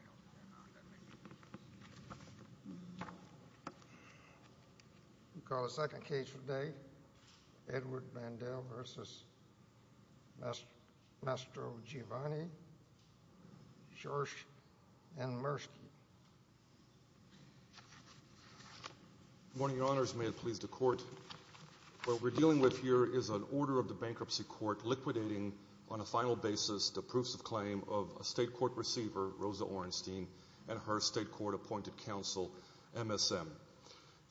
al. Good morning, Your Honors. May it please the Court, what we're dealing with here is an order of the Bankruptcy Court liquidating on a final basis the proofs of claim of a State Court receiver, Rosa Orenstein, and her State Court-appointed counsel, MSM.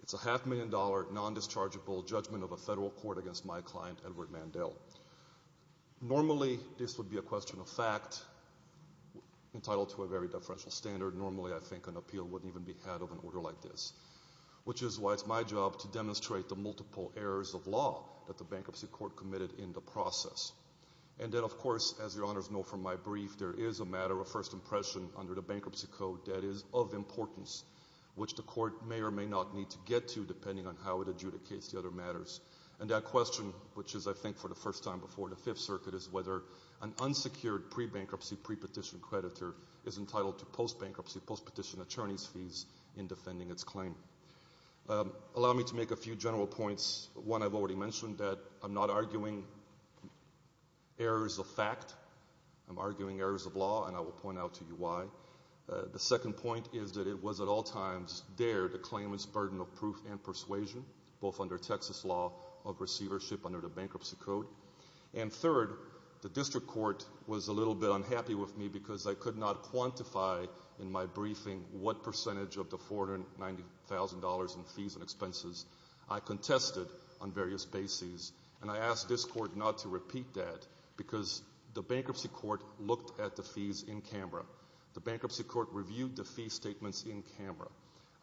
It's a half-million dollar, non-dischargeable judgment of a federal court against my client Edward Mandel. Normally this would be a question of fact entitled to a very deferential standard. Normally I think an appeal wouldn't even be had of an order like this, which is why it's my job to demonstrate the multiple errors of law that the Bankruptcy Court committed in the process. And then of course, as Your Honors know from my brief, there is a matter of first impression under the Bankruptcy Code that is of importance, which the Court may or may not need to get to depending on how it adjudicates the other matters. And that question, which is I think for the first time before the Fifth Circuit, is whether an unsecured pre-bankruptcy, pre-petition creditor is entitled to post-bankruptcy, post-petition attorney's fees in defending its claim. Allow me to make a few general points. One, I've already mentioned that I'm not arguing errors of fact, I'm arguing errors of law, and I will point out to you why. The second point is that it was at all times there, the claimant's burden of proof and persuasion, both under Texas law of receivership under the Bankruptcy Code. And third, the District Court was a little bit unhappy with me because they could not in fees and expenses. I contested on various bases, and I asked this Court not to repeat that because the Bankruptcy Court looked at the fees in camera. The Bankruptcy Court reviewed the fee statements in camera.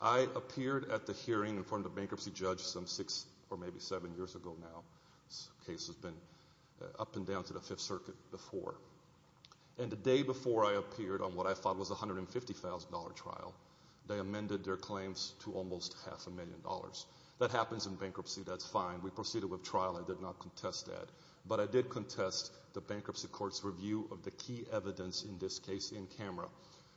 I appeared at the hearing in front of the bankruptcy judge some six or maybe seven years ago now. This case has been up and down to the Fifth Circuit before. And the day before I appeared on what I thought was a $150,000 trial, they amended their claims to almost half a million dollars. That happens in bankruptcy. That's fine. We proceeded with trial. I did not contest that. But I did contest the Bankruptcy Court's review of the key evidence in this case in camera.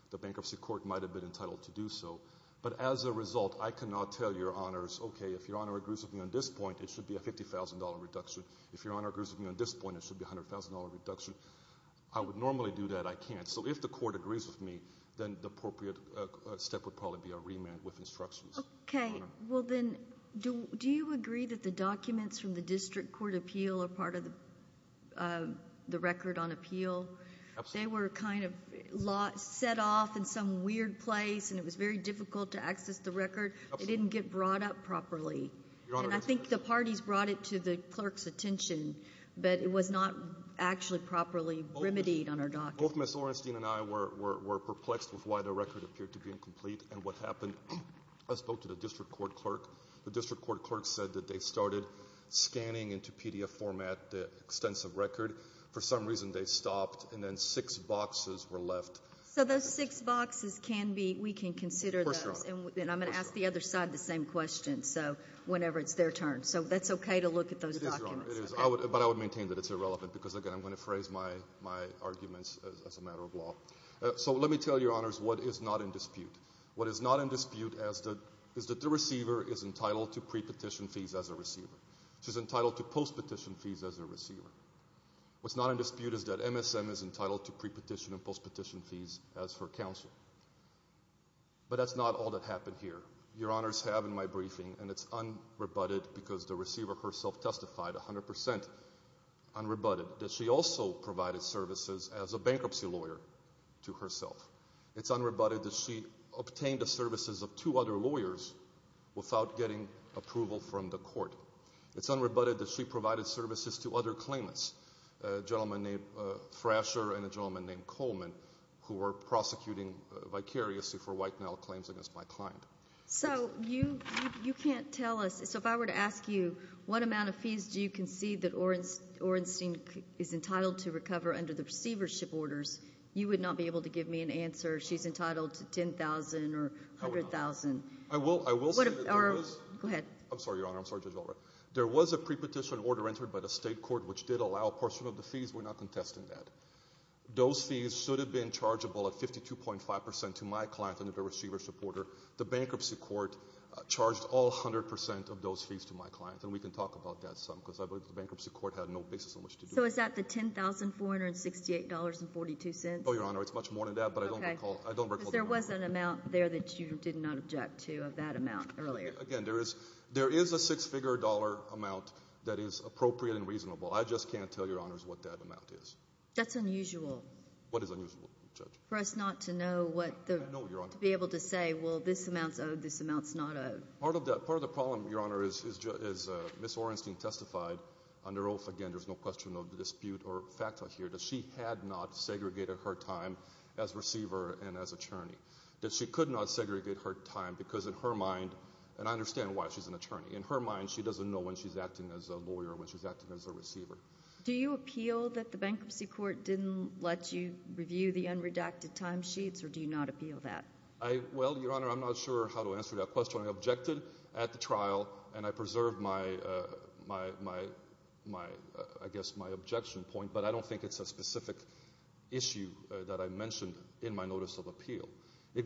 The Bankruptcy Court might have been entitled to do so. But as a result, I cannot tell Your Honors, okay, if Your Honor agrees with me on this point, it should be a $50,000 reduction. If Your Honor agrees with me on this point, it should be a $100,000 reduction. I would normally do that. I can't. So if the court agrees with me, then the appropriate step would probably be a remand with instructions. Okay. Well, then, do you agree that the documents from the District Court appeal are part of the record on appeal? They were kind of set off in some weird place, and it was very difficult to access the record. It didn't get brought up properly. And I think the parties brought it to the clerk's attention, but it was not actually properly remedied on our documents. Both Ms. Orenstein and I were perplexed with why the record appeared to be incomplete and what happened. I spoke to the District Court clerk. The District Court clerk said that they started scanning into PDF format the extensive record. For some reason, they stopped, and then six boxes were left. So those six boxes can be, we can consider those. Of course, Your Honor. And I'm going to ask the other side the same question, so whenever it's their turn. So that's okay to look at those documents? It is, Your Honor. It is. But I would maintain that it's irrelevant because, again, I'm going to phrase my arguments as a matter of law. So let me tell Your Honors what is not in dispute. What is not in dispute is that the receiver is entitled to pre-petition fees as a receiver. She's entitled to post-petition fees as a receiver. What's not in dispute is that MSM is entitled to pre-petition and post-petition fees as her counsel. But that's not all that happened here. Your Honors have in my briefing, and it's unrebutted because the receiver herself testified 100% unrebutted, that she also provided services as a bankruptcy lawyer to herself. It's unrebutted that she obtained the services of two other lawyers without getting approval from the court. It's unrebutted that she provided services to other claimants, a gentleman named Thrasher and a gentleman named Coleman, who were prosecuting vicariously for white male claims against my client. So you can't tell us, so if I were to ask you what amount of fees do you concede that Orenstein is entitled to recover under the receivership orders, you would not be able to give me an answer. She's entitled to $10,000 or $100,000. I will say that there was a pre-petition order entered by the state court which did allow a portion of the fees. We're not contesting that. Those fees should have been chargeable at 52.5% to my client under the receivership order. The bankruptcy court charged all 100% of those fees to my client, and we can talk about that some, because I believe the bankruptcy court had no basis on which to do that. So is that the $10,468.42? Oh, Your Honor, it's much more than that, but I don't recall. Because there was an amount there that you did not object to of that amount earlier. Again, there is a six-figure dollar amount that is appropriate and reasonable. I just can't tell Your Honors what that amount is. That's unusual. What is unusual, Judge? For us not to be able to say, well, this amount's owed, this amount's not owed. Part of the problem, Your Honor, is Ms. Orenstein testified under oath, again, there's no question of dispute or fact here, that she had not segregated her time as receiver and as attorney. That she could not segregate her time because in her mind, and I understand why she's an attorney, in her mind she doesn't know when she's acting as a lawyer, when she's acting as a receiver. Do you appeal that the bankruptcy court didn't let you review the unredacted timesheets, or do you not appeal that? Well, Your Honor, I'm not sure how to answer that question. I objected at the trial, and I preserved my, I guess, my objection point. But I don't think it's a specific issue that I mentioned in my notice of appeal. It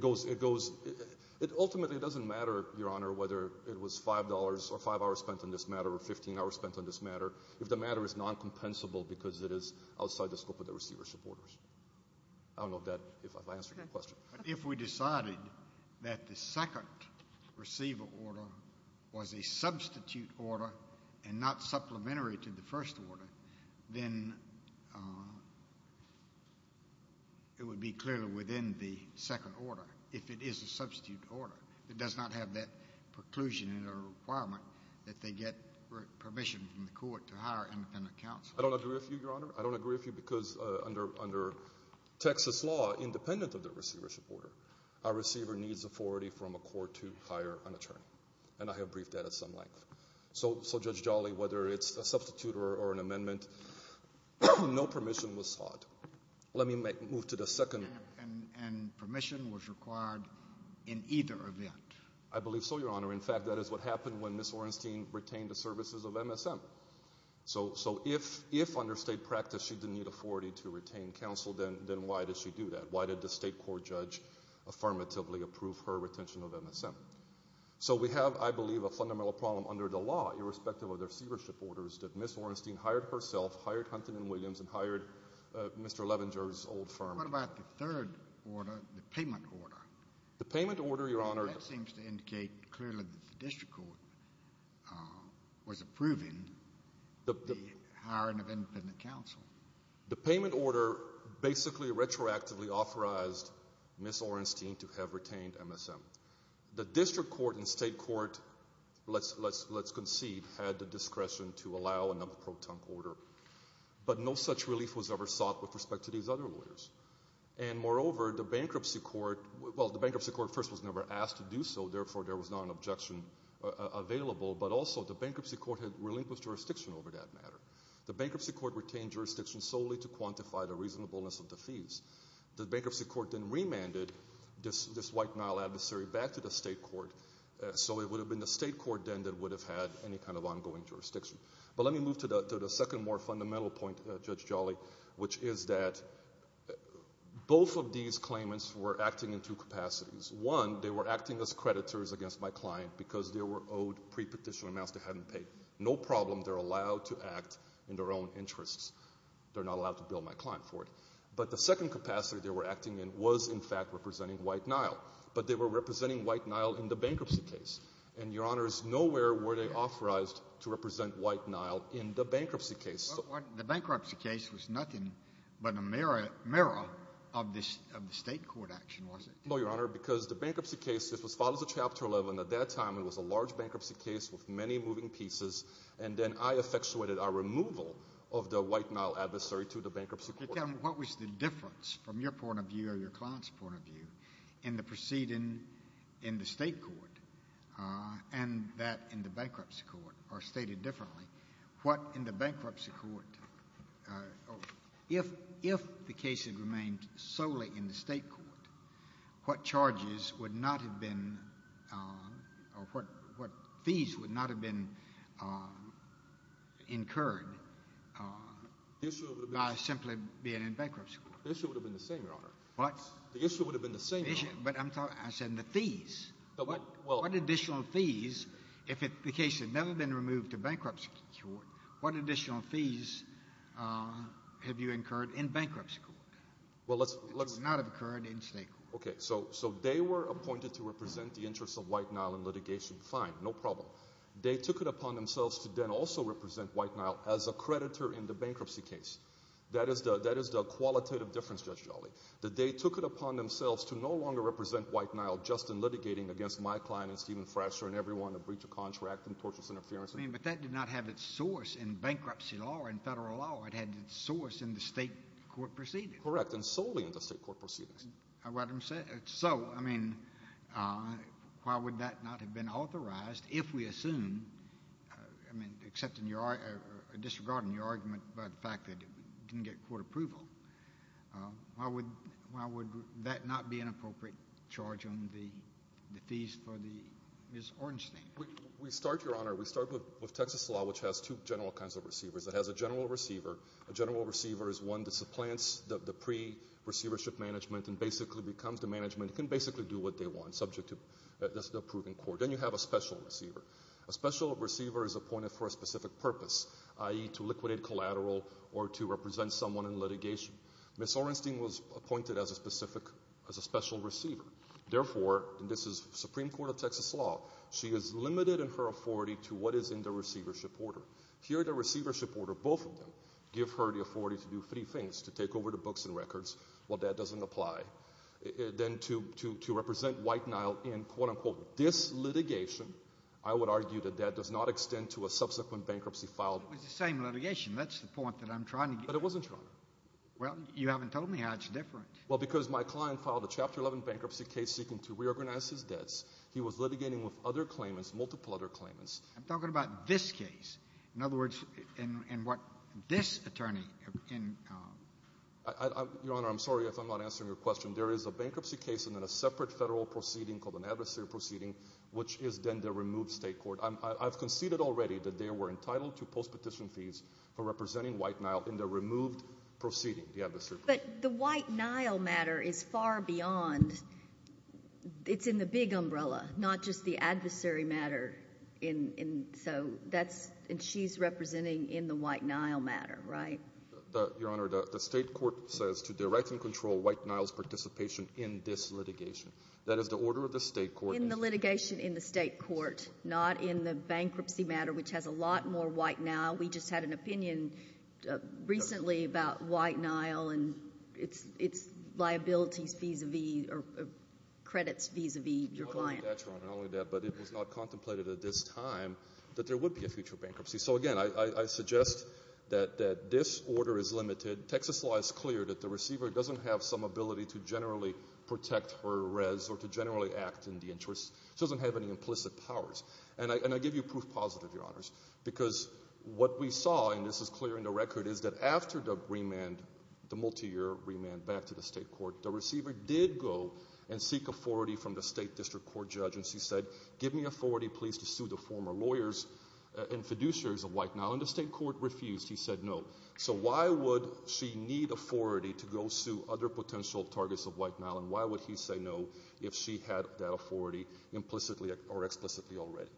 ultimately doesn't matter, Your Honor, whether it was $5 or five hours spent on this matter, if the matter is non-compensable because it is outside the scope of the receivership orders. I don't know if that, if I answered your question. Okay. But if we decided that the second receiver order was a substitute order and not supplementary to the first order, then it would be clearly within the second order, if it is a substitute order. It does not have that preclusion or requirement that they get permission from the court to hire independent counsel. I don't agree with you, Your Honor. I don't agree with you because under Texas law, independent of the receivership order, a receiver needs authority from a court to hire an attorney. And I have briefed that at some length. So Judge Jolly, whether it's a substitute or an amendment, no permission was sought. Let me move to the second. And permission was required in either event. I believe so, Your Honor. In fact, that is what happened when Ms. Orenstein retained the services of MSM. So if under state practice she didn't need authority to retain counsel, then why did she do that? Why did the state court judge affirmatively approve her retention of MSM? So we have, I believe, a fundamental problem under the law, irrespective of the receivership orders, that Ms. Orenstein hired herself, hired Hunton & Williams, and hired Mr. Levenger's old firm. And what about the third order, the payment order? The payment order, Your Honor... That seems to indicate clearly that the district court was approving the hiring of independent counsel. The payment order basically retroactively authorized Ms. Orenstein to have retained MSM. The district court and state court, let's concede, had the discretion to allow another Moreover, the bankruptcy court... Well, the bankruptcy court first was never asked to do so, therefore there was not an objection available, but also the bankruptcy court had relinquished jurisdiction over that matter. The bankruptcy court retained jurisdiction solely to quantify the reasonableness of the fees. The bankruptcy court then remanded this White Nile adversary back to the state court, so it would have been the state court then that would have had any kind of ongoing jurisdiction. But let me move to the second more fundamental point, Judge Jolly, which is that both of these claimants were acting in two capacities. One, they were acting as creditors against my client because they were owed pre-petition amounts they hadn't paid. No problem, they're allowed to act in their own interests. They're not allowed to bill my client for it. But the second capacity they were acting in was, in fact, representing White Nile. But they were representing White Nile in the bankruptcy case. And, Your Honor, nowhere were they authorized to represent White Nile in the bankruptcy case. The bankruptcy case was nothing but a mirror of the state court action, was it? No, Your Honor, because the bankruptcy case was filed as a Chapter 11. At that time, it was a large bankruptcy case with many moving pieces, and then I effectuated our removal of the White Nile adversary to the bankruptcy court. Tell me, what was the difference from your point of view or your client's point of view in the proceeding in the state court? And that in the bankruptcy court, or stated differently, what in the bankruptcy court – if the case had remained solely in the state court, what charges would not have been – or what fees would not have been incurred by simply being in bankruptcy court? The issue would have been the same, Your Honor. What? The issue would have been the same, Your Honor. But I'm talking – I said the fees. Well – What additional fees, if the case had never been removed to bankruptcy court, what additional fees have you incurred in bankruptcy court? Well, let's – Would not have occurred in state court. Okay. So they were appointed to represent the interests of White Nile in litigation. Fine. No problem. They took it upon themselves to then also represent White Nile as a creditor in the bankruptcy case. That is the qualitative difference, Judge Jolly, that they took it upon themselves to no longer represent White Nile just in litigating against my client and Stephen Frasher and everyone, a breach of contract, and tortuous interference. I mean, but that did not have its source in bankruptcy law or in Federal law. It had its source in the state court proceedings. Correct. And solely in the state court proceedings. So, I mean, why would that not have been authorized if we assume – I mean, except in your – disregarding your argument about the fact that it didn't get court approval. Why would that not be an appropriate charge on the fees for the – Ms. Ornstein. We start, Your Honor, we start with Texas law, which has two general kinds of receivers. It has a general receiver. A general receiver is one that supplants the pre-receivership management and basically becomes the management. It can basically do what they want, subject to the approving court. Then you have a special receiver. A special receiver is appointed for a specific purpose, i.e., to liquidate collateral or to represent someone in litigation. Ms. Ornstein was appointed as a specific – as a special receiver. Therefore, and this is Supreme Court of Texas law, she is limited in her authority to what is in the receivership order. Here, the receivership order, both of them, give her the authority to do three things, to take over the books and records. Well, that doesn't apply. Then to represent White Nile in, quote-unquote, this litigation, I would argue that that does not extend to a subsequent bankruptcy filed. It's the same litigation. That's the point that I'm trying to get at. But it wasn't, Your Honor. Well, you haven't told me how it's different. Well, because my client filed a Chapter 11 bankruptcy case seeking to reorganize his debts. He was litigating with other claimants, multiple other claimants. I'm talking about this case. In other words, in what this attorney – Your Honor, I'm sorry if I'm not answering your question. There is a bankruptcy case and then a separate federal proceeding called an adversary proceeding, which is then the removed state court. I've conceded already that they were entitled to post-petition fees for representing White Nile in the removed proceeding, the adversary. But the White Nile matter is far beyond. It's in the big umbrella, not just the adversary matter. And so that's – and she's representing in the White Nile matter, right? Your Honor, the state court says to direct and control White Nile's participation in this litigation. That is the order of the state court. In the litigation in the state court, not in the bankruptcy matter, which has a lot more White Nile. We just had an opinion recently about White Nile and its liabilities vis-a-vis or credits vis-a-vis your client. Your Honor, not only that, Your Honor, not only that, but it was not contemplated at this time that there would be a future bankruptcy. So, again, I suggest that this order is limited. Texas law is clear that the receiver doesn't have some ability to generally protect her res or to generally act in the interest. She doesn't have any implicit powers. And I give you proof positive, Your Honors, because what we saw, and this is clear in the record, is that after the remand, the multiyear remand back to the state court, the receiver did go and seek authority from the state district court judge. And she said, give me authority, please, to sue the former lawyers and fiduciaries of White Nile. And the state court refused. He said no. So why would she need authority to go sue other potential targets of White Nile, and why would he say no if she had that authority implicitly or explicitly already?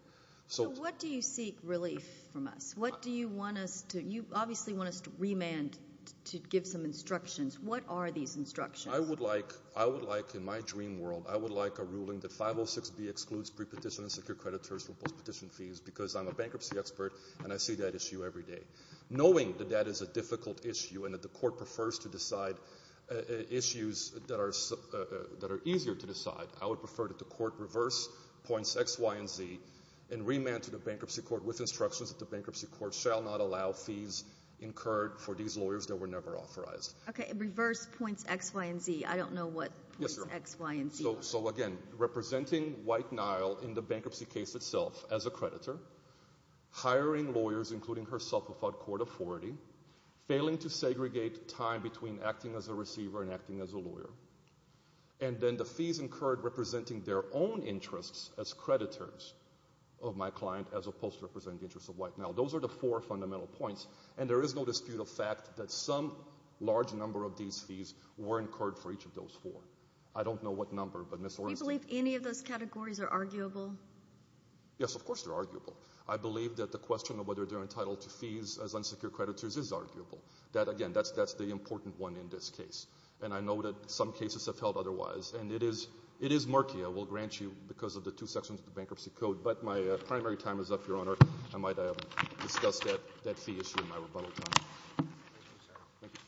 So what do you seek relief from us? What do you want us to do? You obviously want us to remand to give some instructions. What are these instructions? I would like, in my dream world, I would like a ruling that 506B excludes prepetition and secure creditors from postpetition fees because I'm a bankruptcy expert and I see that issue every day. Knowing that that is a difficult issue and that the court prefers to decide issues that are easier to decide, I would prefer that the court reverse points X, Y, and Z and remand to the bankruptcy court with instructions that the bankruptcy court shall not allow fees incurred for these lawyers that were never authorized. Okay, reverse points X, Y, and Z. I don't know what points X, Y, and Z are. So, again, representing White Nile in the bankruptcy case itself as a creditor, hiring lawyers, including herself, without court authority, failing to segregate time between acting as a receiver and acting as a lawyer, and then the fees incurred representing their own interests as creditors of my client as opposed to representing the interests of White Nile. Those are the four fundamental points, and there is no dispute of fact that some large number of these fees were incurred for each of those four. I don't know what number, but Ms. Orenstein— Do you believe any of those categories are arguable? Yes, of course they're arguable. I believe that the question of whether they're entitled to fees as unsecured creditors is arguable. Again, that's the important one in this case, and I know that some cases have held otherwise, and it is murky, I will grant you, because of the two sections of the bankruptcy code, but my primary time is up, Your Honor. I might have discussed that fee issue in my rebuttal time. Thank you, sir. Thank you.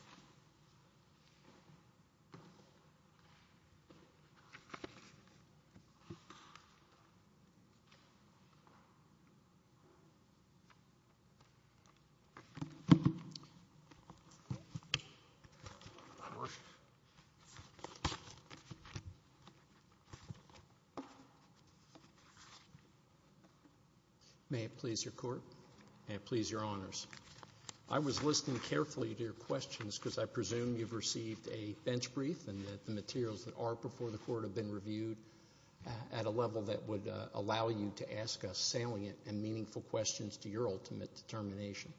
May it please Your Court. May it please Your Honors. I was listening carefully to your questions because I presume you've received a bench brief and that the materials that are before the Court have been reviewed at a level that would allow you to ask us salient and meaningful questions to your ultimate determination.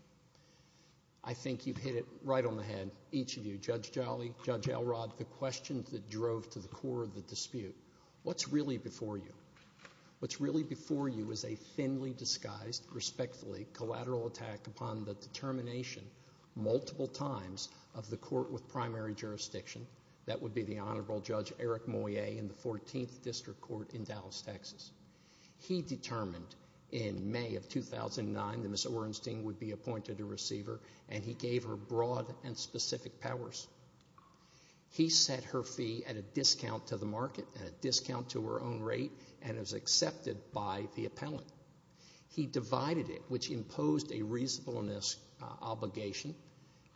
I think you've hit it right on the head, each of you, Judge Jolly, Judge Elrod, the questions that drove to the core of the dispute. What's really before you? What's really before you is a thinly disguised, respectfully, collateral attack upon the determination multiple times of the Court with primary jurisdiction, that would be the Honorable Judge Eric Moyet in the 14th District Court in Dallas, Texas. He determined in May of 2009 that Ms. Orenstein would be appointed a receiver, and he gave her broad and specific powers. He set her fee at a discount to the market, at a discount to her own rate, and it was accepted by the appellant. He divided it, which imposed a reasonableness obligation,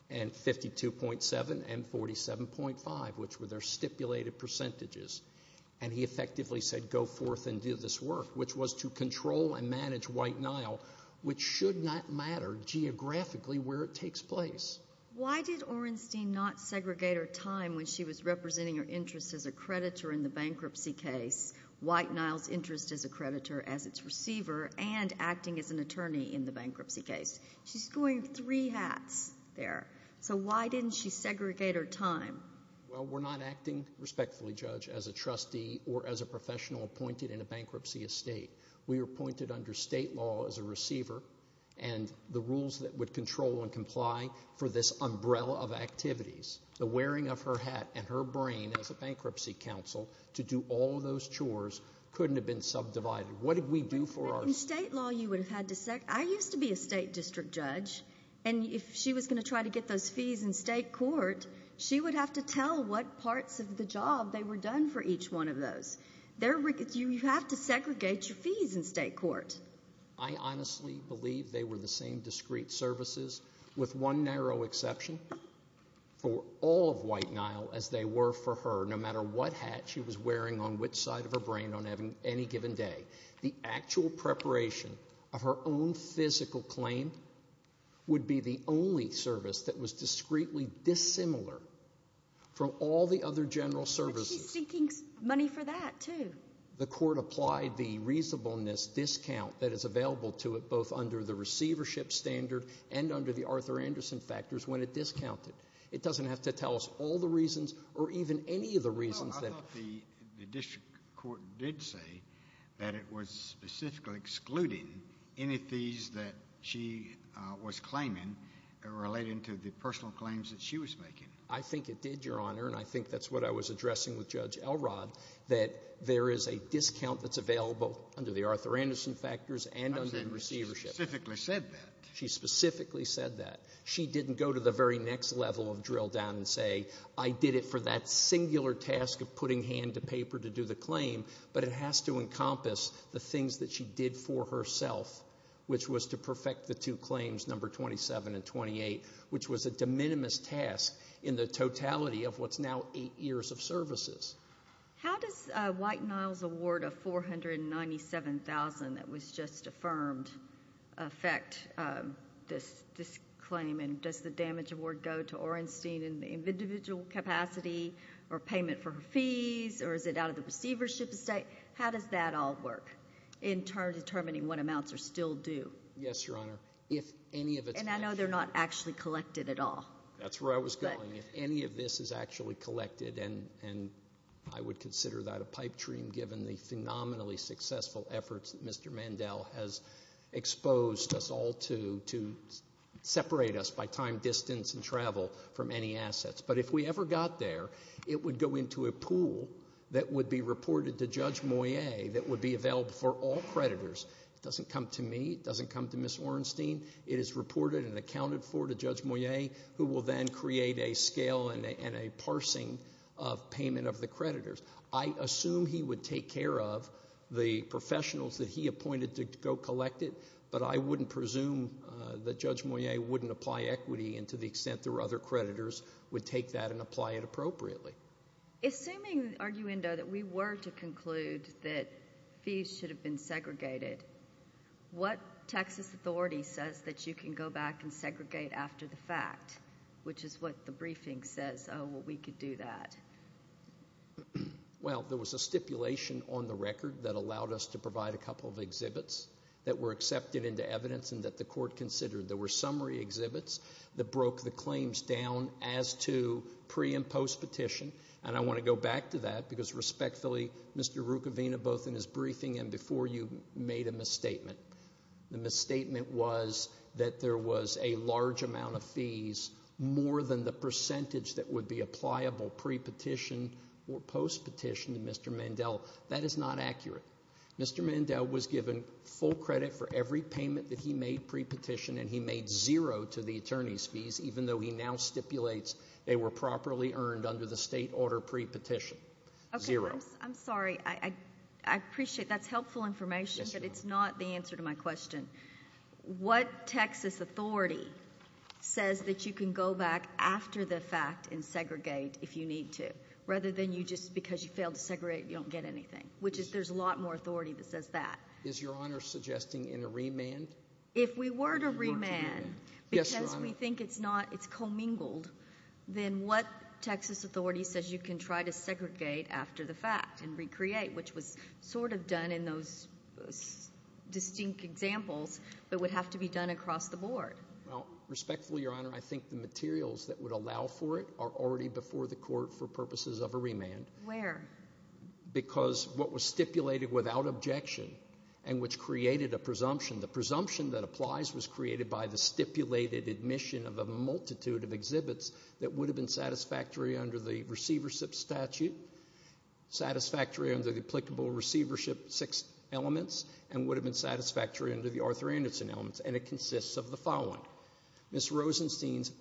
and 52.7 and 47.5, which were their stipulated percentages, and he effectively said, go forth and do this work, which was to control and manage White Nile, which should not matter geographically where it takes place. Why did Orenstein not segregate her time when she was representing her interest as a creditor in the bankruptcy case, White Nile's interest as a creditor, as its receiver, and acting as an attorney in the bankruptcy case? She's going three hats there, so why didn't she segregate her time? Well, we're not acting respectfully, Judge, as a trustee or as a professional appointed in a bankruptcy estate. We were appointed under state law as a receiver, and the rules that would control and comply for this umbrella of activities, the wearing of her hat and her brain as a bankruptcy counsel to do all those chores, couldn't have been subdivided. What did we do for our— In state law, you would have had to—I used to be a state district judge, and if she was going to try to get those fees in state court, she would have to tell what parts of the job they were done for each one of those. You have to segregate your fees in state court. I honestly believe they were the same discrete services, with one narrow exception, for all of White Nile as they were for her, no matter what hat she was wearing on which side of her brain on any given day. The actual preparation of her own physical claim would be the only service that was discreetly dissimilar from all the other general services. But she's seeking money for that, too. The court applied the reasonableness discount that is available to it both under the receivership standard and under the Arthur Anderson factors when it discounted. It doesn't have to tell us all the reasons or even any of the reasons that— I thought the district court did say that it was specifically excluding any fees that she was claiming relating to the personal claims that she was making. I think it did, Your Honor, and I think that's what I was addressing with Judge Elrod, that there is a discount that's available under the Arthur Anderson factors and under the receivership. She specifically said that. She specifically said that. She didn't go to the very next level of drill down and say, I did it for that singular task of putting hand to paper to do the claim, but it has to encompass the things that she did for herself, which was to perfect the two claims, number 27 and 28, which was a de minimis task in the totality of what's now eight years of services. How does White-Niles' award of $497,000 that was just affirmed affect this claim, and does the damage award go to Orenstein in individual capacity or payment for her fees, or is it out of the receivership estate? How does that all work in determining what amounts are still due? Yes, Your Honor. And I know they're not actually collected at all. That's where I was going. If any of this is actually collected, and I would consider that a pipe dream given the phenomenally successful efforts that Mr. Mandel has exposed us all to to separate us by time, distance, and travel from any assets. But if we ever got there, it would go into a pool that would be reported to Judge Moyet that would be available for all creditors. It doesn't come to me. It doesn't come to Ms. Orenstein. It is reported and accounted for to Judge Moyet, who will then create a scale and a parsing of payment of the creditors. I assume he would take care of the professionals that he appointed to go collect it, but I wouldn't presume that Judge Moyet wouldn't apply equity and to the extent there were other creditors would take that and apply it appropriately. Assuming, arguendo, that we were to conclude that fees should have been segregated, what Texas authority says that you can go back and segregate after the fact, which is what the briefing says, oh, well, we could do that? Well, there was a stipulation on the record that allowed us to provide a couple of exhibits that were accepted into evidence and that the court considered. There were summary exhibits that broke the claims down as to pre- and post-petition, and I want to go back to that because respectfully, Mr. Rucavina, both in his briefing and before you made a misstatement. The misstatement was that there was a large amount of fees, more than the percentage that would be applicable pre-petition or post-petition to Mr. Mandel. That is not accurate. Mr. Mandel was given full credit for every payment that he made pre-petition, and he made zero to the attorney's fees, even though he now stipulates they were properly earned under the state order pre-petition. Zero. I'm sorry. I appreciate that's helpful information, but it's not the answer to my question. What Texas authority says that you can go back after the fact and segregate if you need to, rather than you just because you failed to segregate, you don't get anything, which is there's a lot more authority that says that. Is Your Honor suggesting in a remand? If we were to remand because we think it's commingled, then what Texas authority says you can try to segregate after the fact and recreate, which was sort of done in those distinct examples but would have to be done across the board? Respectfully, Your Honor, I think the materials that would allow for it are already before the court for purposes of a remand. Where? Because what was stipulated without objection and which created a presumption, the presumption that applies was created by the stipulated admission of a multitude of exhibits that would have been satisfactory under the receivership statute, satisfactory under the applicable receivership six elements, and would have been satisfactory under the Arthur Anderson elements, and it consists of the following. Ms. Orenstein's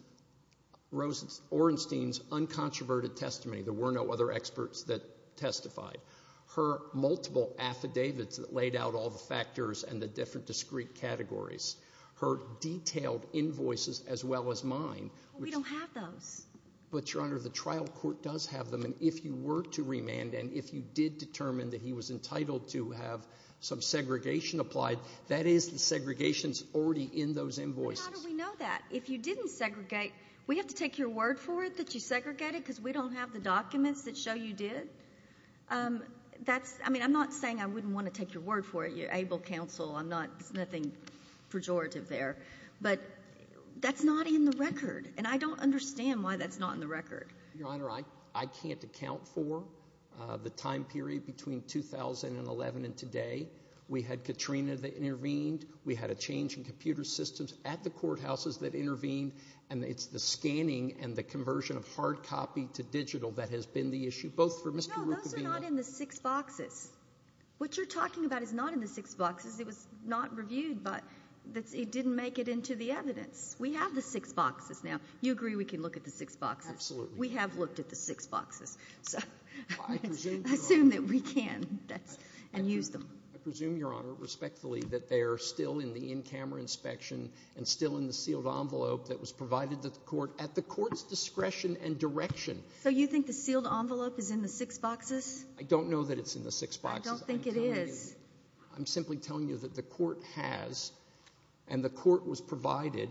uncontroverted testimony, there were no other experts that testified. Her multiple affidavits that laid out all the factors and the different discrete categories. Her detailed invoices as well as mine. We don't have those. But, Your Honor, the trial court does have them, and if you were to remand and if you did determine that he was entitled to have some segregation applied, that is the segregations already in those invoices. How do we know that? If you didn't segregate, we have to take your word for it that you segregated because we don't have the documents that show you did. I mean, I'm not saying I wouldn't want to take your word for it, your able counsel. There's nothing pejorative there. But that's not in the record, and I don't understand why that's not in the record. Your Honor, I can't account for the time period between 2011 and today. We had Katrina that intervened. We had a change in computer systems at the courthouses that intervened, and it's the scanning and the conversion of hard copy to digital that has been the issue, both for Mr. Ruccovino. No, those are not in the six boxes. What you're talking about is not in the six boxes. It was not reviewed, but it didn't make it into the evidence. We have the six boxes now. You agree we can look at the six boxes? Absolutely. We have looked at the six boxes, so assume that we can and use them. I presume, Your Honor, respectfully, that they are still in the in-camera inspection and still in the sealed envelope that was provided to the court at the court's discretion and direction. So you think the sealed envelope is in the six boxes? I don't know that it's in the six boxes. I don't think it is. I'm simply telling you that the court has and the court was provided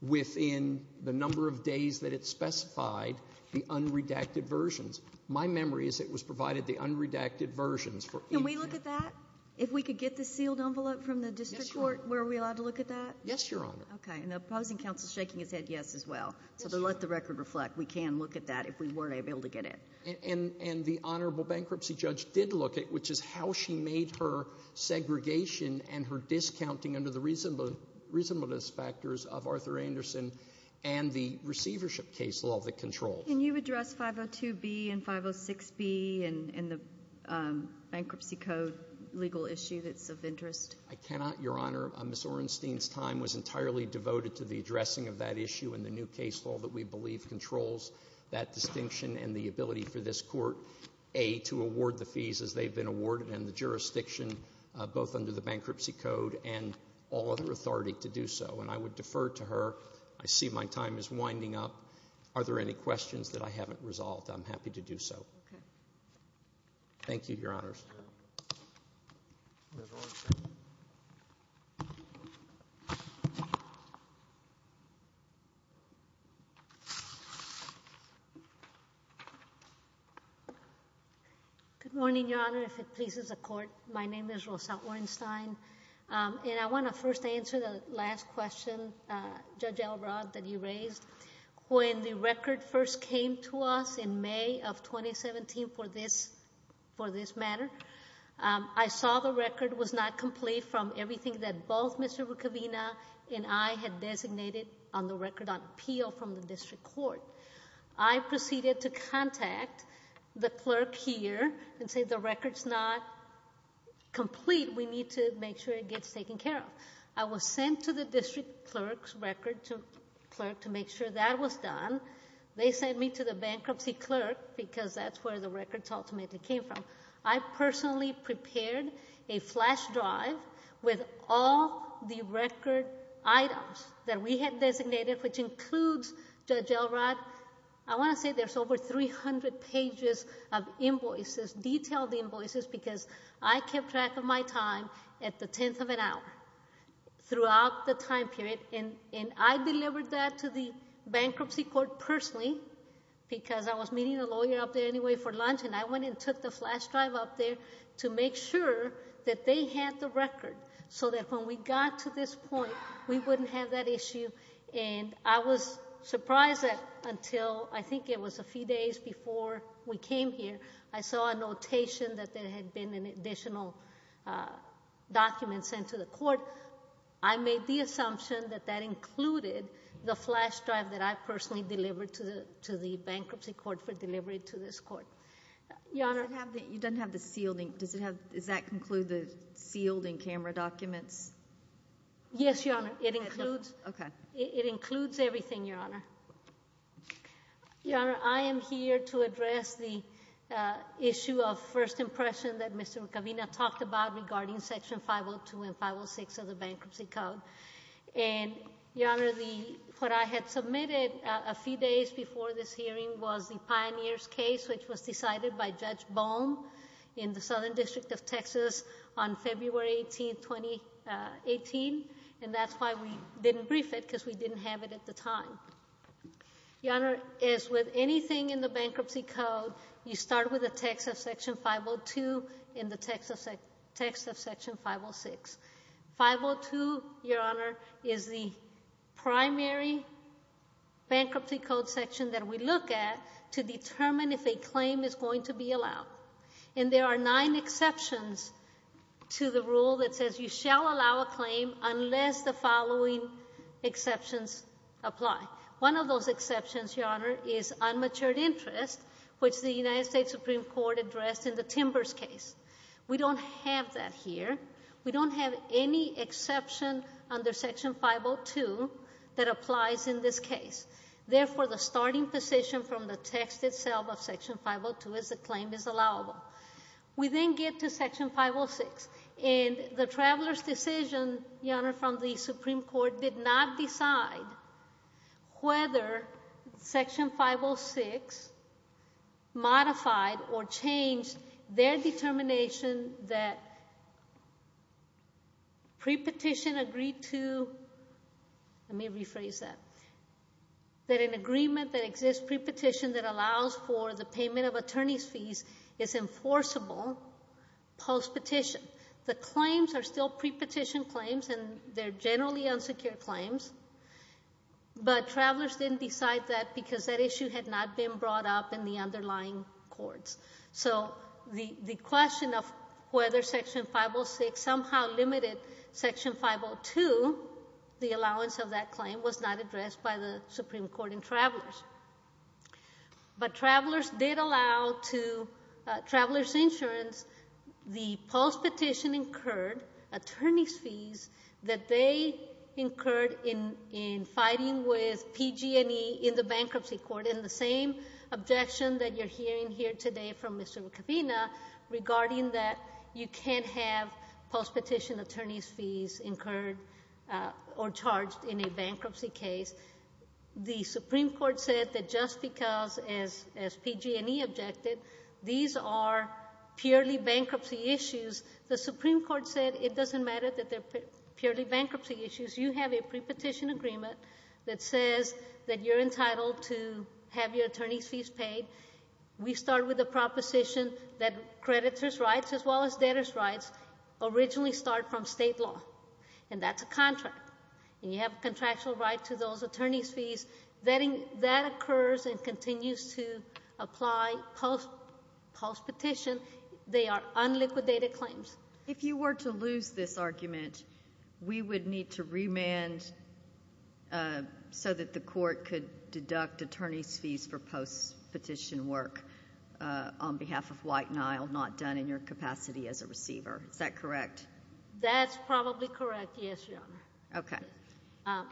within the number of days that it specified the unredacted versions. My memory is it was provided the unredacted versions for each. Can we look at that? If we could get the sealed envelope from the district court, were we allowed to look at that? Yes, Your Honor. Okay, and the opposing counsel is shaking his head yes as well. So to let the record reflect, we can look at that if we weren't able to get it. And the honorable bankruptcy judge did look at it, which is how she made her segregation and her discounting under the reasonableness factors of Arthur Anderson and the receivership case law that controls. Can you address 502B and 506B and the bankruptcy code legal issue that's of interest? I cannot, Your Honor. Ms. Orenstein's time was entirely devoted to the addressing of that issue and the new case law that we believe controls that distinction and the ability for this court, A, to award the fees as they've been awarded, and the jurisdiction both under the bankruptcy code and all other authority to do so. And I would defer to her. I see my time is winding up. Are there any questions that I haven't resolved? I'm happy to do so. Okay. Thank you, Your Honors. Good morning, Your Honor, if it pleases the court. My name is Rosette Orenstein, and I want to first answer the last question, Judge Elrod, that you raised. When the record first came to us in May of 2017 for this matter, I saw the record was not complete from everything that both Mr. Rucavina and I had designated on the record on appeal from the district court. I proceeded to contact the clerk here and say the record's not complete. We need to make sure it gets taken care of. I was sent to the district clerk's record clerk to make sure that was done. They sent me to the bankruptcy clerk because that's where the record ultimately came from. I personally prepared a flash drive with all the record items that we had designated, which includes, Judge Elrod, I want to say there's over 300 pages of invoices, detailed invoices, because I kept track of my time at the tenth of an hour throughout the time period. I delivered that to the bankruptcy court personally because I was meeting a lawyer up there anyway for lunch, and I went and took the flash drive up there to make sure that they had the record so that when we got to this point, we wouldn't have that issue. I was surprised that until, I think it was a few days before we came here, I saw a notation that there had been an additional document sent to the court. I made the assumption that that included the flash drive that I personally delivered to the bankruptcy court for delivery to this court. Your Honor. You don't have the sealed, does that include the sealed and camera documents? Yes, Your Honor. It includes everything, Your Honor. Your Honor, I am here to address the issue of first impression that Mr. Rucavina talked about regarding Section 502 and 506 of the Bankruptcy Code. Your Honor, what I had submitted a few days before this hearing was the Pioneers case, which was decided by Judge Bohm in the Southern District of Texas on February 18, 2018, and that's why we didn't brief it, because we didn't have it at the time. Your Honor, as with anything in the Bankruptcy Code, you start with the text of Section 502 and the text of Section 506. 502, Your Honor, is the primary Bankruptcy Code section that we look at to determine if a claim is going to be allowed. And there are nine exceptions to the rule that says you shall allow a claim unless the following exceptions apply. One of those exceptions, Your Honor, is unmatured interest, which the United States Supreme Court addressed in the Timbers case. We don't have that here. We don't have any exception under Section 502 that applies in this case. Therefore, the starting position from the text itself of Section 502 is the claim is allowable. We then get to Section 506, and the traveler's decision, Your Honor, from the Supreme Court did not decide whether Section 506 modified or changed their determination that pre-petition agreed to. Let me rephrase that. That an agreement that exists pre-petition that allows for the payment of attorney's fees is enforceable post-petition. The claims are still pre-petition claims, and they're generally unsecured claims, but travelers didn't decide that because that issue had not been brought up in the underlying courts. So the question of whether Section 506 somehow limited Section 502, the allowance of that claim, was not addressed by the Supreme Court and travelers. But travelers did allow to travelers' insurance the post-petition incurred attorney's fees that they incurred in fighting with PG&E in the bankruptcy court, in the same objection that you're hearing here today from Mr. McAvena regarding that you can't have post-petition attorney's fees incurred or charged in a bankruptcy case. The Supreme Court said that just because, as PG&E objected, these are purely bankruptcy issues, the Supreme Court said it doesn't matter that they're purely bankruptcy issues. You have a pre-petition agreement that says that you're entitled to have your attorney's fees paid. We start with a proposition that creditors' rights as well as debtors' rights originally start from state law, and that's a contract, and you have a contractual right to those attorney's fees. That occurs and continues to apply post-petition. They are unliquidated claims. If you were to lose this argument, we would need to remand so that the court could deduct attorney's fees for post-petition work on behalf of White and Isle not done in your capacity as a receiver. Is that correct? That's probably correct, yes, Your Honor. Okay. How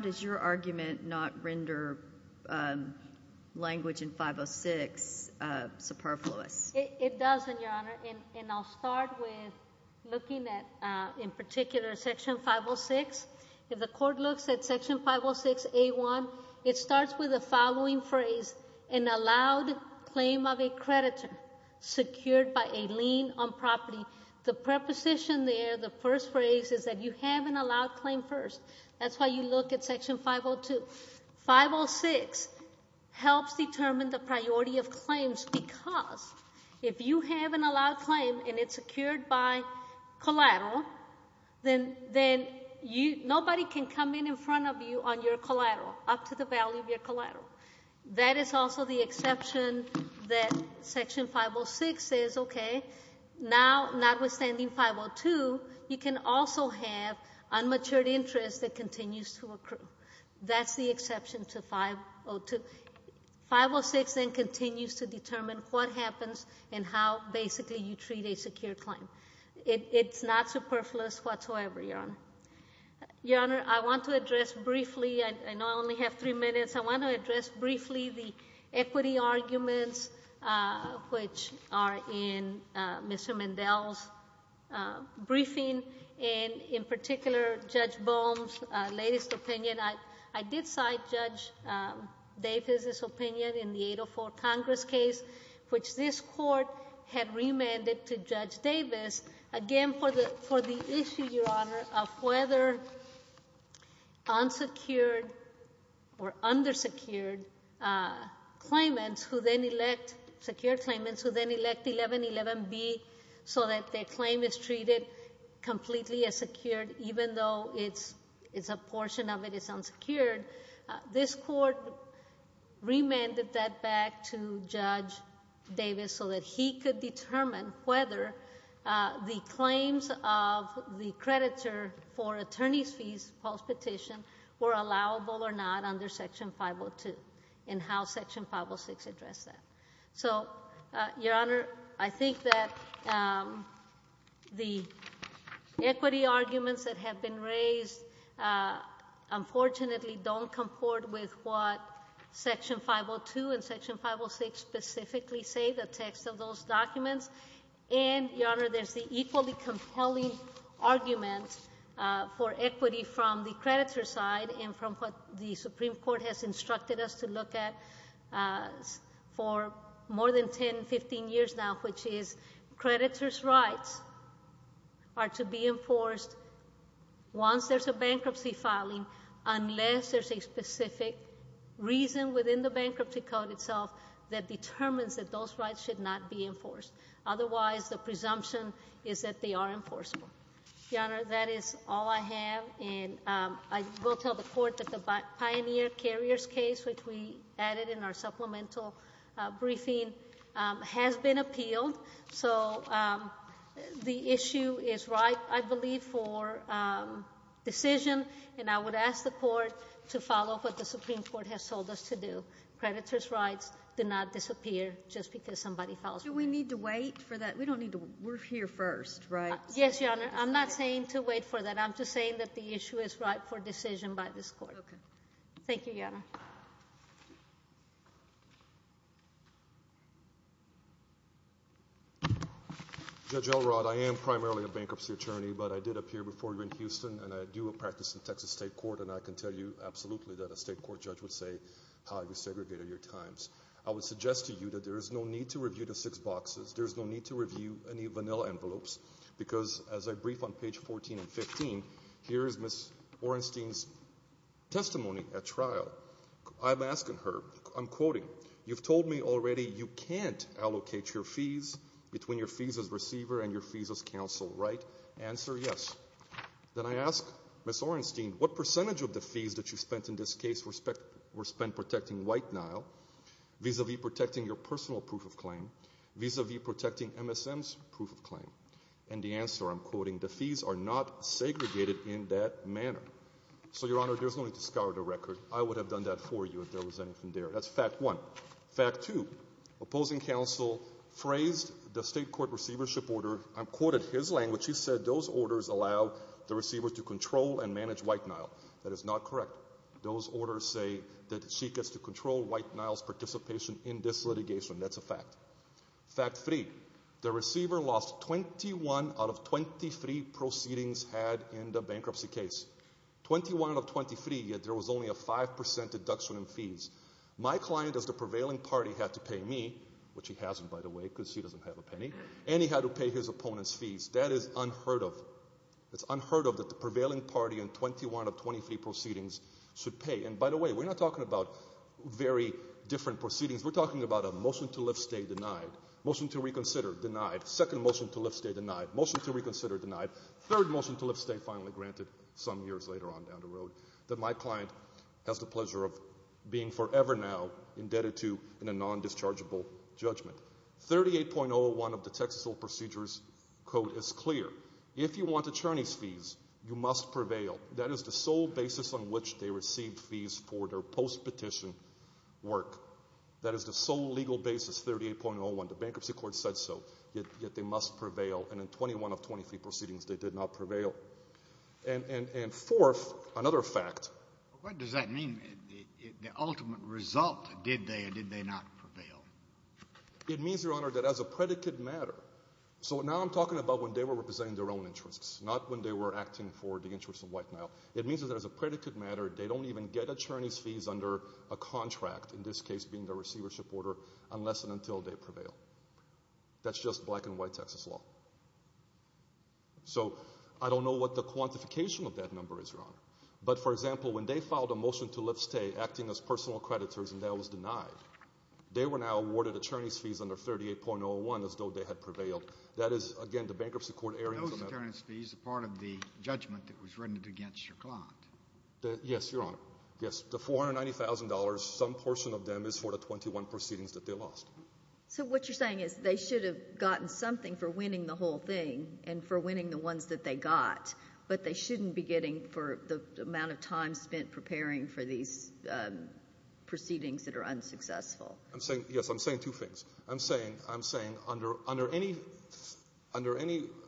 does your argument not render language in 506 superfluous? It doesn't, Your Honor, and I'll start with looking at, in particular, Section 506. If the court looks at Section 506A1, it starts with the following phrase, an allowed claim of a creditor secured by a lien on property. The preposition there, the first phrase, is that you have an allowed claim first. That's why you look at Section 502. 506 helps determine the priority of claims because if you have an allowed claim and it's secured by collateral, then nobody can come in in front of you on your collateral, up to the value of your collateral. That is also the exception that Section 506 says, okay, now, notwithstanding 502, you can also have unmatured interest that continues to accrue. That's the exception to 502. 506 then continues to determine what happens and how, basically, you treat a secured claim. It's not superfluous whatsoever, Your Honor. Your Honor, I want to address briefly, I know I only have three minutes, I want to address briefly the equity arguments which are in Mr. Mendel's briefing, and in particular, Judge Bohm's latest opinion. I did cite Judge Davis's opinion in the 804 Congress case, which this Court had remanded to Judge Davis, again, for the issue, Your Honor, of whether unsecured or undersecured claimants who then elect, unsecured claimants who then elect 1111B so that their claim is treated completely as secured, even though a portion of it is unsecured. This Court remanded that back to Judge Davis so that he could determine whether the claims of the creditor for attorney's fees postpetition were allowable or not under Section 502 and how Section 506 addressed that. So, Your Honor, I think that the equity arguments that have been raised, unfortunately, don't comport with what Section 502 and Section 506 specifically say, the text of those documents. And, Your Honor, there's the equally compelling argument for equity from the creditor's side and from what the Supreme Court has instructed us to look at for more than 10, 15 years now, which is creditor's rights are to be enforced once there's a bankruptcy filing, unless there's a specific reason within the bankruptcy code itself that determines that those rights should not be enforced. Otherwise, the presumption is that they are enforceable. Your Honor, that is all I have, and I will tell the Court that the Pioneer Carriers case, which we added in our supplemental briefing, has been appealed. So, the issue is ripe, I believe, for decision, and I would ask the Court to follow what the Supreme Court has told us to do. Creditor's rights do not disappear just because somebody files them. Do we need to wait for that? We don't need to. We're here first, right? Yes, Your Honor. I'm not saying to wait for that. I'm just saying that the issue is ripe for decision by this Court. Okay. Thank you, Your Honor. Judge Elrod, I am primarily a bankruptcy attorney, but I did appear before you in Houston, and I do practice in Texas State Court, and I can tell you absolutely that a state court judge would say, how you segregated your times. I would suggest to you that there is no need to review the six boxes. There is no need to review any vanilla envelopes, because as I brief on page 14 and 15, I'm asking her, I'm quoting, you've told me already you can't allocate your fees between your fees as receiver and your fees as counsel, right? Answer, yes. Then I ask Ms. Orenstein, what percentage of the fees that you spent in this case were spent protecting White Nile, vis-a-vis protecting your personal proof of claim, vis-a-vis protecting MSM's proof of claim? And the answer, I'm quoting, the fees are not segregated in that manner. So, Your Honor, there's no need to scour the record. I would have done that for you if there was anything there. That's fact one. Fact two, opposing counsel phrased the state court receivership order. I'm quoting his language. He said those orders allow the receiver to control and manage White Nile. That is not correct. Those orders say that she gets to control White Nile's participation in this litigation. That's a fact. Fact three, the receiver lost 21 out of 23 proceedings had in the bankruptcy case. 21 of 23, yet there was only a 5% deduction in fees. My client as the prevailing party had to pay me, which he hasn't, by the way, because he doesn't have a penny, and he had to pay his opponent's fees. That is unheard of. It's unheard of that the prevailing party in 21 of 23 proceedings should pay. And, by the way, we're not talking about very different proceedings. We're talking about a motion to lift stay denied, motion to reconsider denied, second motion to lift stay denied, motion to reconsider denied, third motion to lift stay finally granted some years later on down the road, that my client has the pleasure of being forever now indebted to in a non-dischargeable judgment. 38.01 of the Texas Old Procedures Code is clear. If you want attorney's fees, you must prevail. That is the sole basis on which they receive fees for their post-petition work. That is the sole legal basis, 38.01. The bankruptcy court said so, yet they must prevail. And in 21 of 23 proceedings, they did not prevail. And fourth, another fact. What does that mean, the ultimate result? Did they or did they not prevail? It means, Your Honor, that as a predicate matter, so now I'm talking about when they were representing their own interests, not when they were acting for the interests of White Nile. It means that as a predicate matter, they don't even get attorney's fees under a contract, in this case being the receivership order, unless and until they prevail. That's just black-and-white Texas law. So I don't know what the quantification of that number is, Your Honor. But, for example, when they filed a motion to lift stay, acting as personal creditors, and that was denied, they were now awarded attorney's fees under 38.01 as though they had prevailed. That is, again, the bankruptcy court erring from that. Those attorney's fees are part of the judgment that was rendered against your client. Yes, Your Honor. Yes, the $490,000, some portion of them is for the 21 proceedings that they lost. So what you're saying is they should have gotten something for winning the whole thing and for winning the ones that they got, but they shouldn't be getting for the amount of time spent preparing for these proceedings that are unsuccessful. Yes, I'm saying two things. I'm saying under any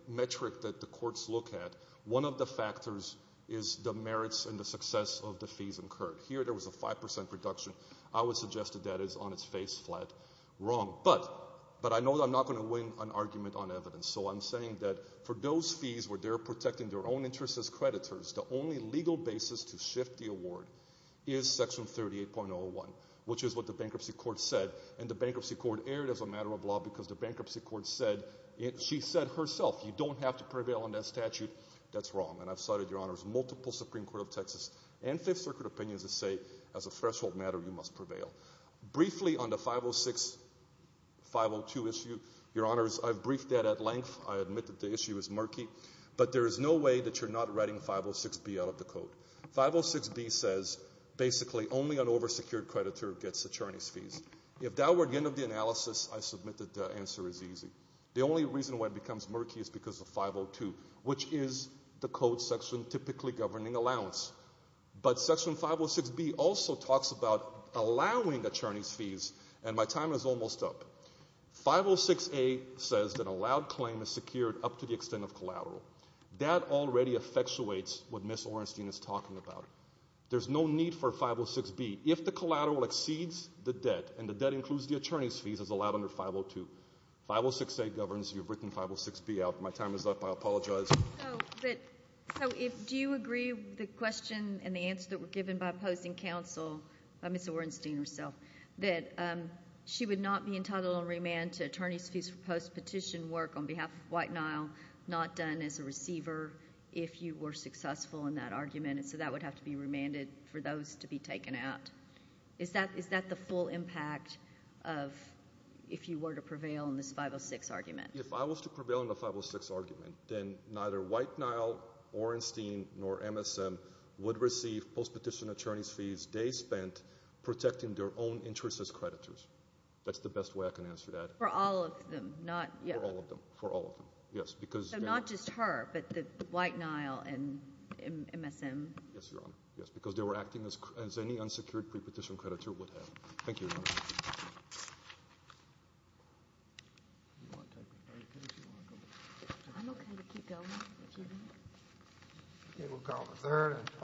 metric that the courts look at, one of the factors is the merits and the success of the fees incurred. Here there was a 5% reduction. I would suggest that that is on its face flat wrong. But I know that I'm not going to win an argument on evidence, so I'm saying that for those fees where they're protecting their own interests as creditors, the only legal basis to shift the award is Section 38.01, which is what the bankruptcy court said, and the bankruptcy court erred as a matter of law because the bankruptcy court said, she said herself, you don't have to prevail on that statute. That's wrong, and I've cited, Your Honor, multiple Supreme Court of Texas and Fifth Circuit opinions that say as a threshold matter you must prevail. Briefly on the 506-502 issue, Your Honors, I've briefed that at length. I admit that the issue is murky, but there is no way that you're not writing 506-B out of the code. 506-B says basically only an oversecured creditor gets attorney's fees. If that were the end of the analysis, I submit that the answer is easy. The only reason why it becomes murky is because of 502, which is the code section typically governing allowance. But Section 506-B also talks about allowing attorney's fees, and my time is almost up. 506-A says that allowed claim is secured up to the extent of collateral. That already effectuates what Ms. Orenstein is talking about. There's no need for 506-B. If the collateral exceeds the debt, and the debt includes the attorney's fees, it's allowed under 502. 506-A governs. You've written 506-B out. My time is up. I apologize. So do you agree with the question and the answer that were given by opposing counsel, by Ms. Orenstein herself, that she would not be entitled on remand to attorney's fees for post-petition work on behalf of White Nile, not done as a receiver if you were successful in that argument, and so that would have to be remanded for those to be taken out? Is that the full impact of if you were to prevail in this 506 argument? If I was to prevail in the 506 argument, then neither White Nile, Orenstein, nor MSM would receive post-petition attorney's fees they spent protecting their own interests as creditors. That's the best way I can answer that. For all of them, not yes? For all of them, yes. So not just her, but the White Nile and MSM? Yes, Your Honor, yes, because they were acting as any unsecured prepetition creditor would have. Thank you, Your Honor.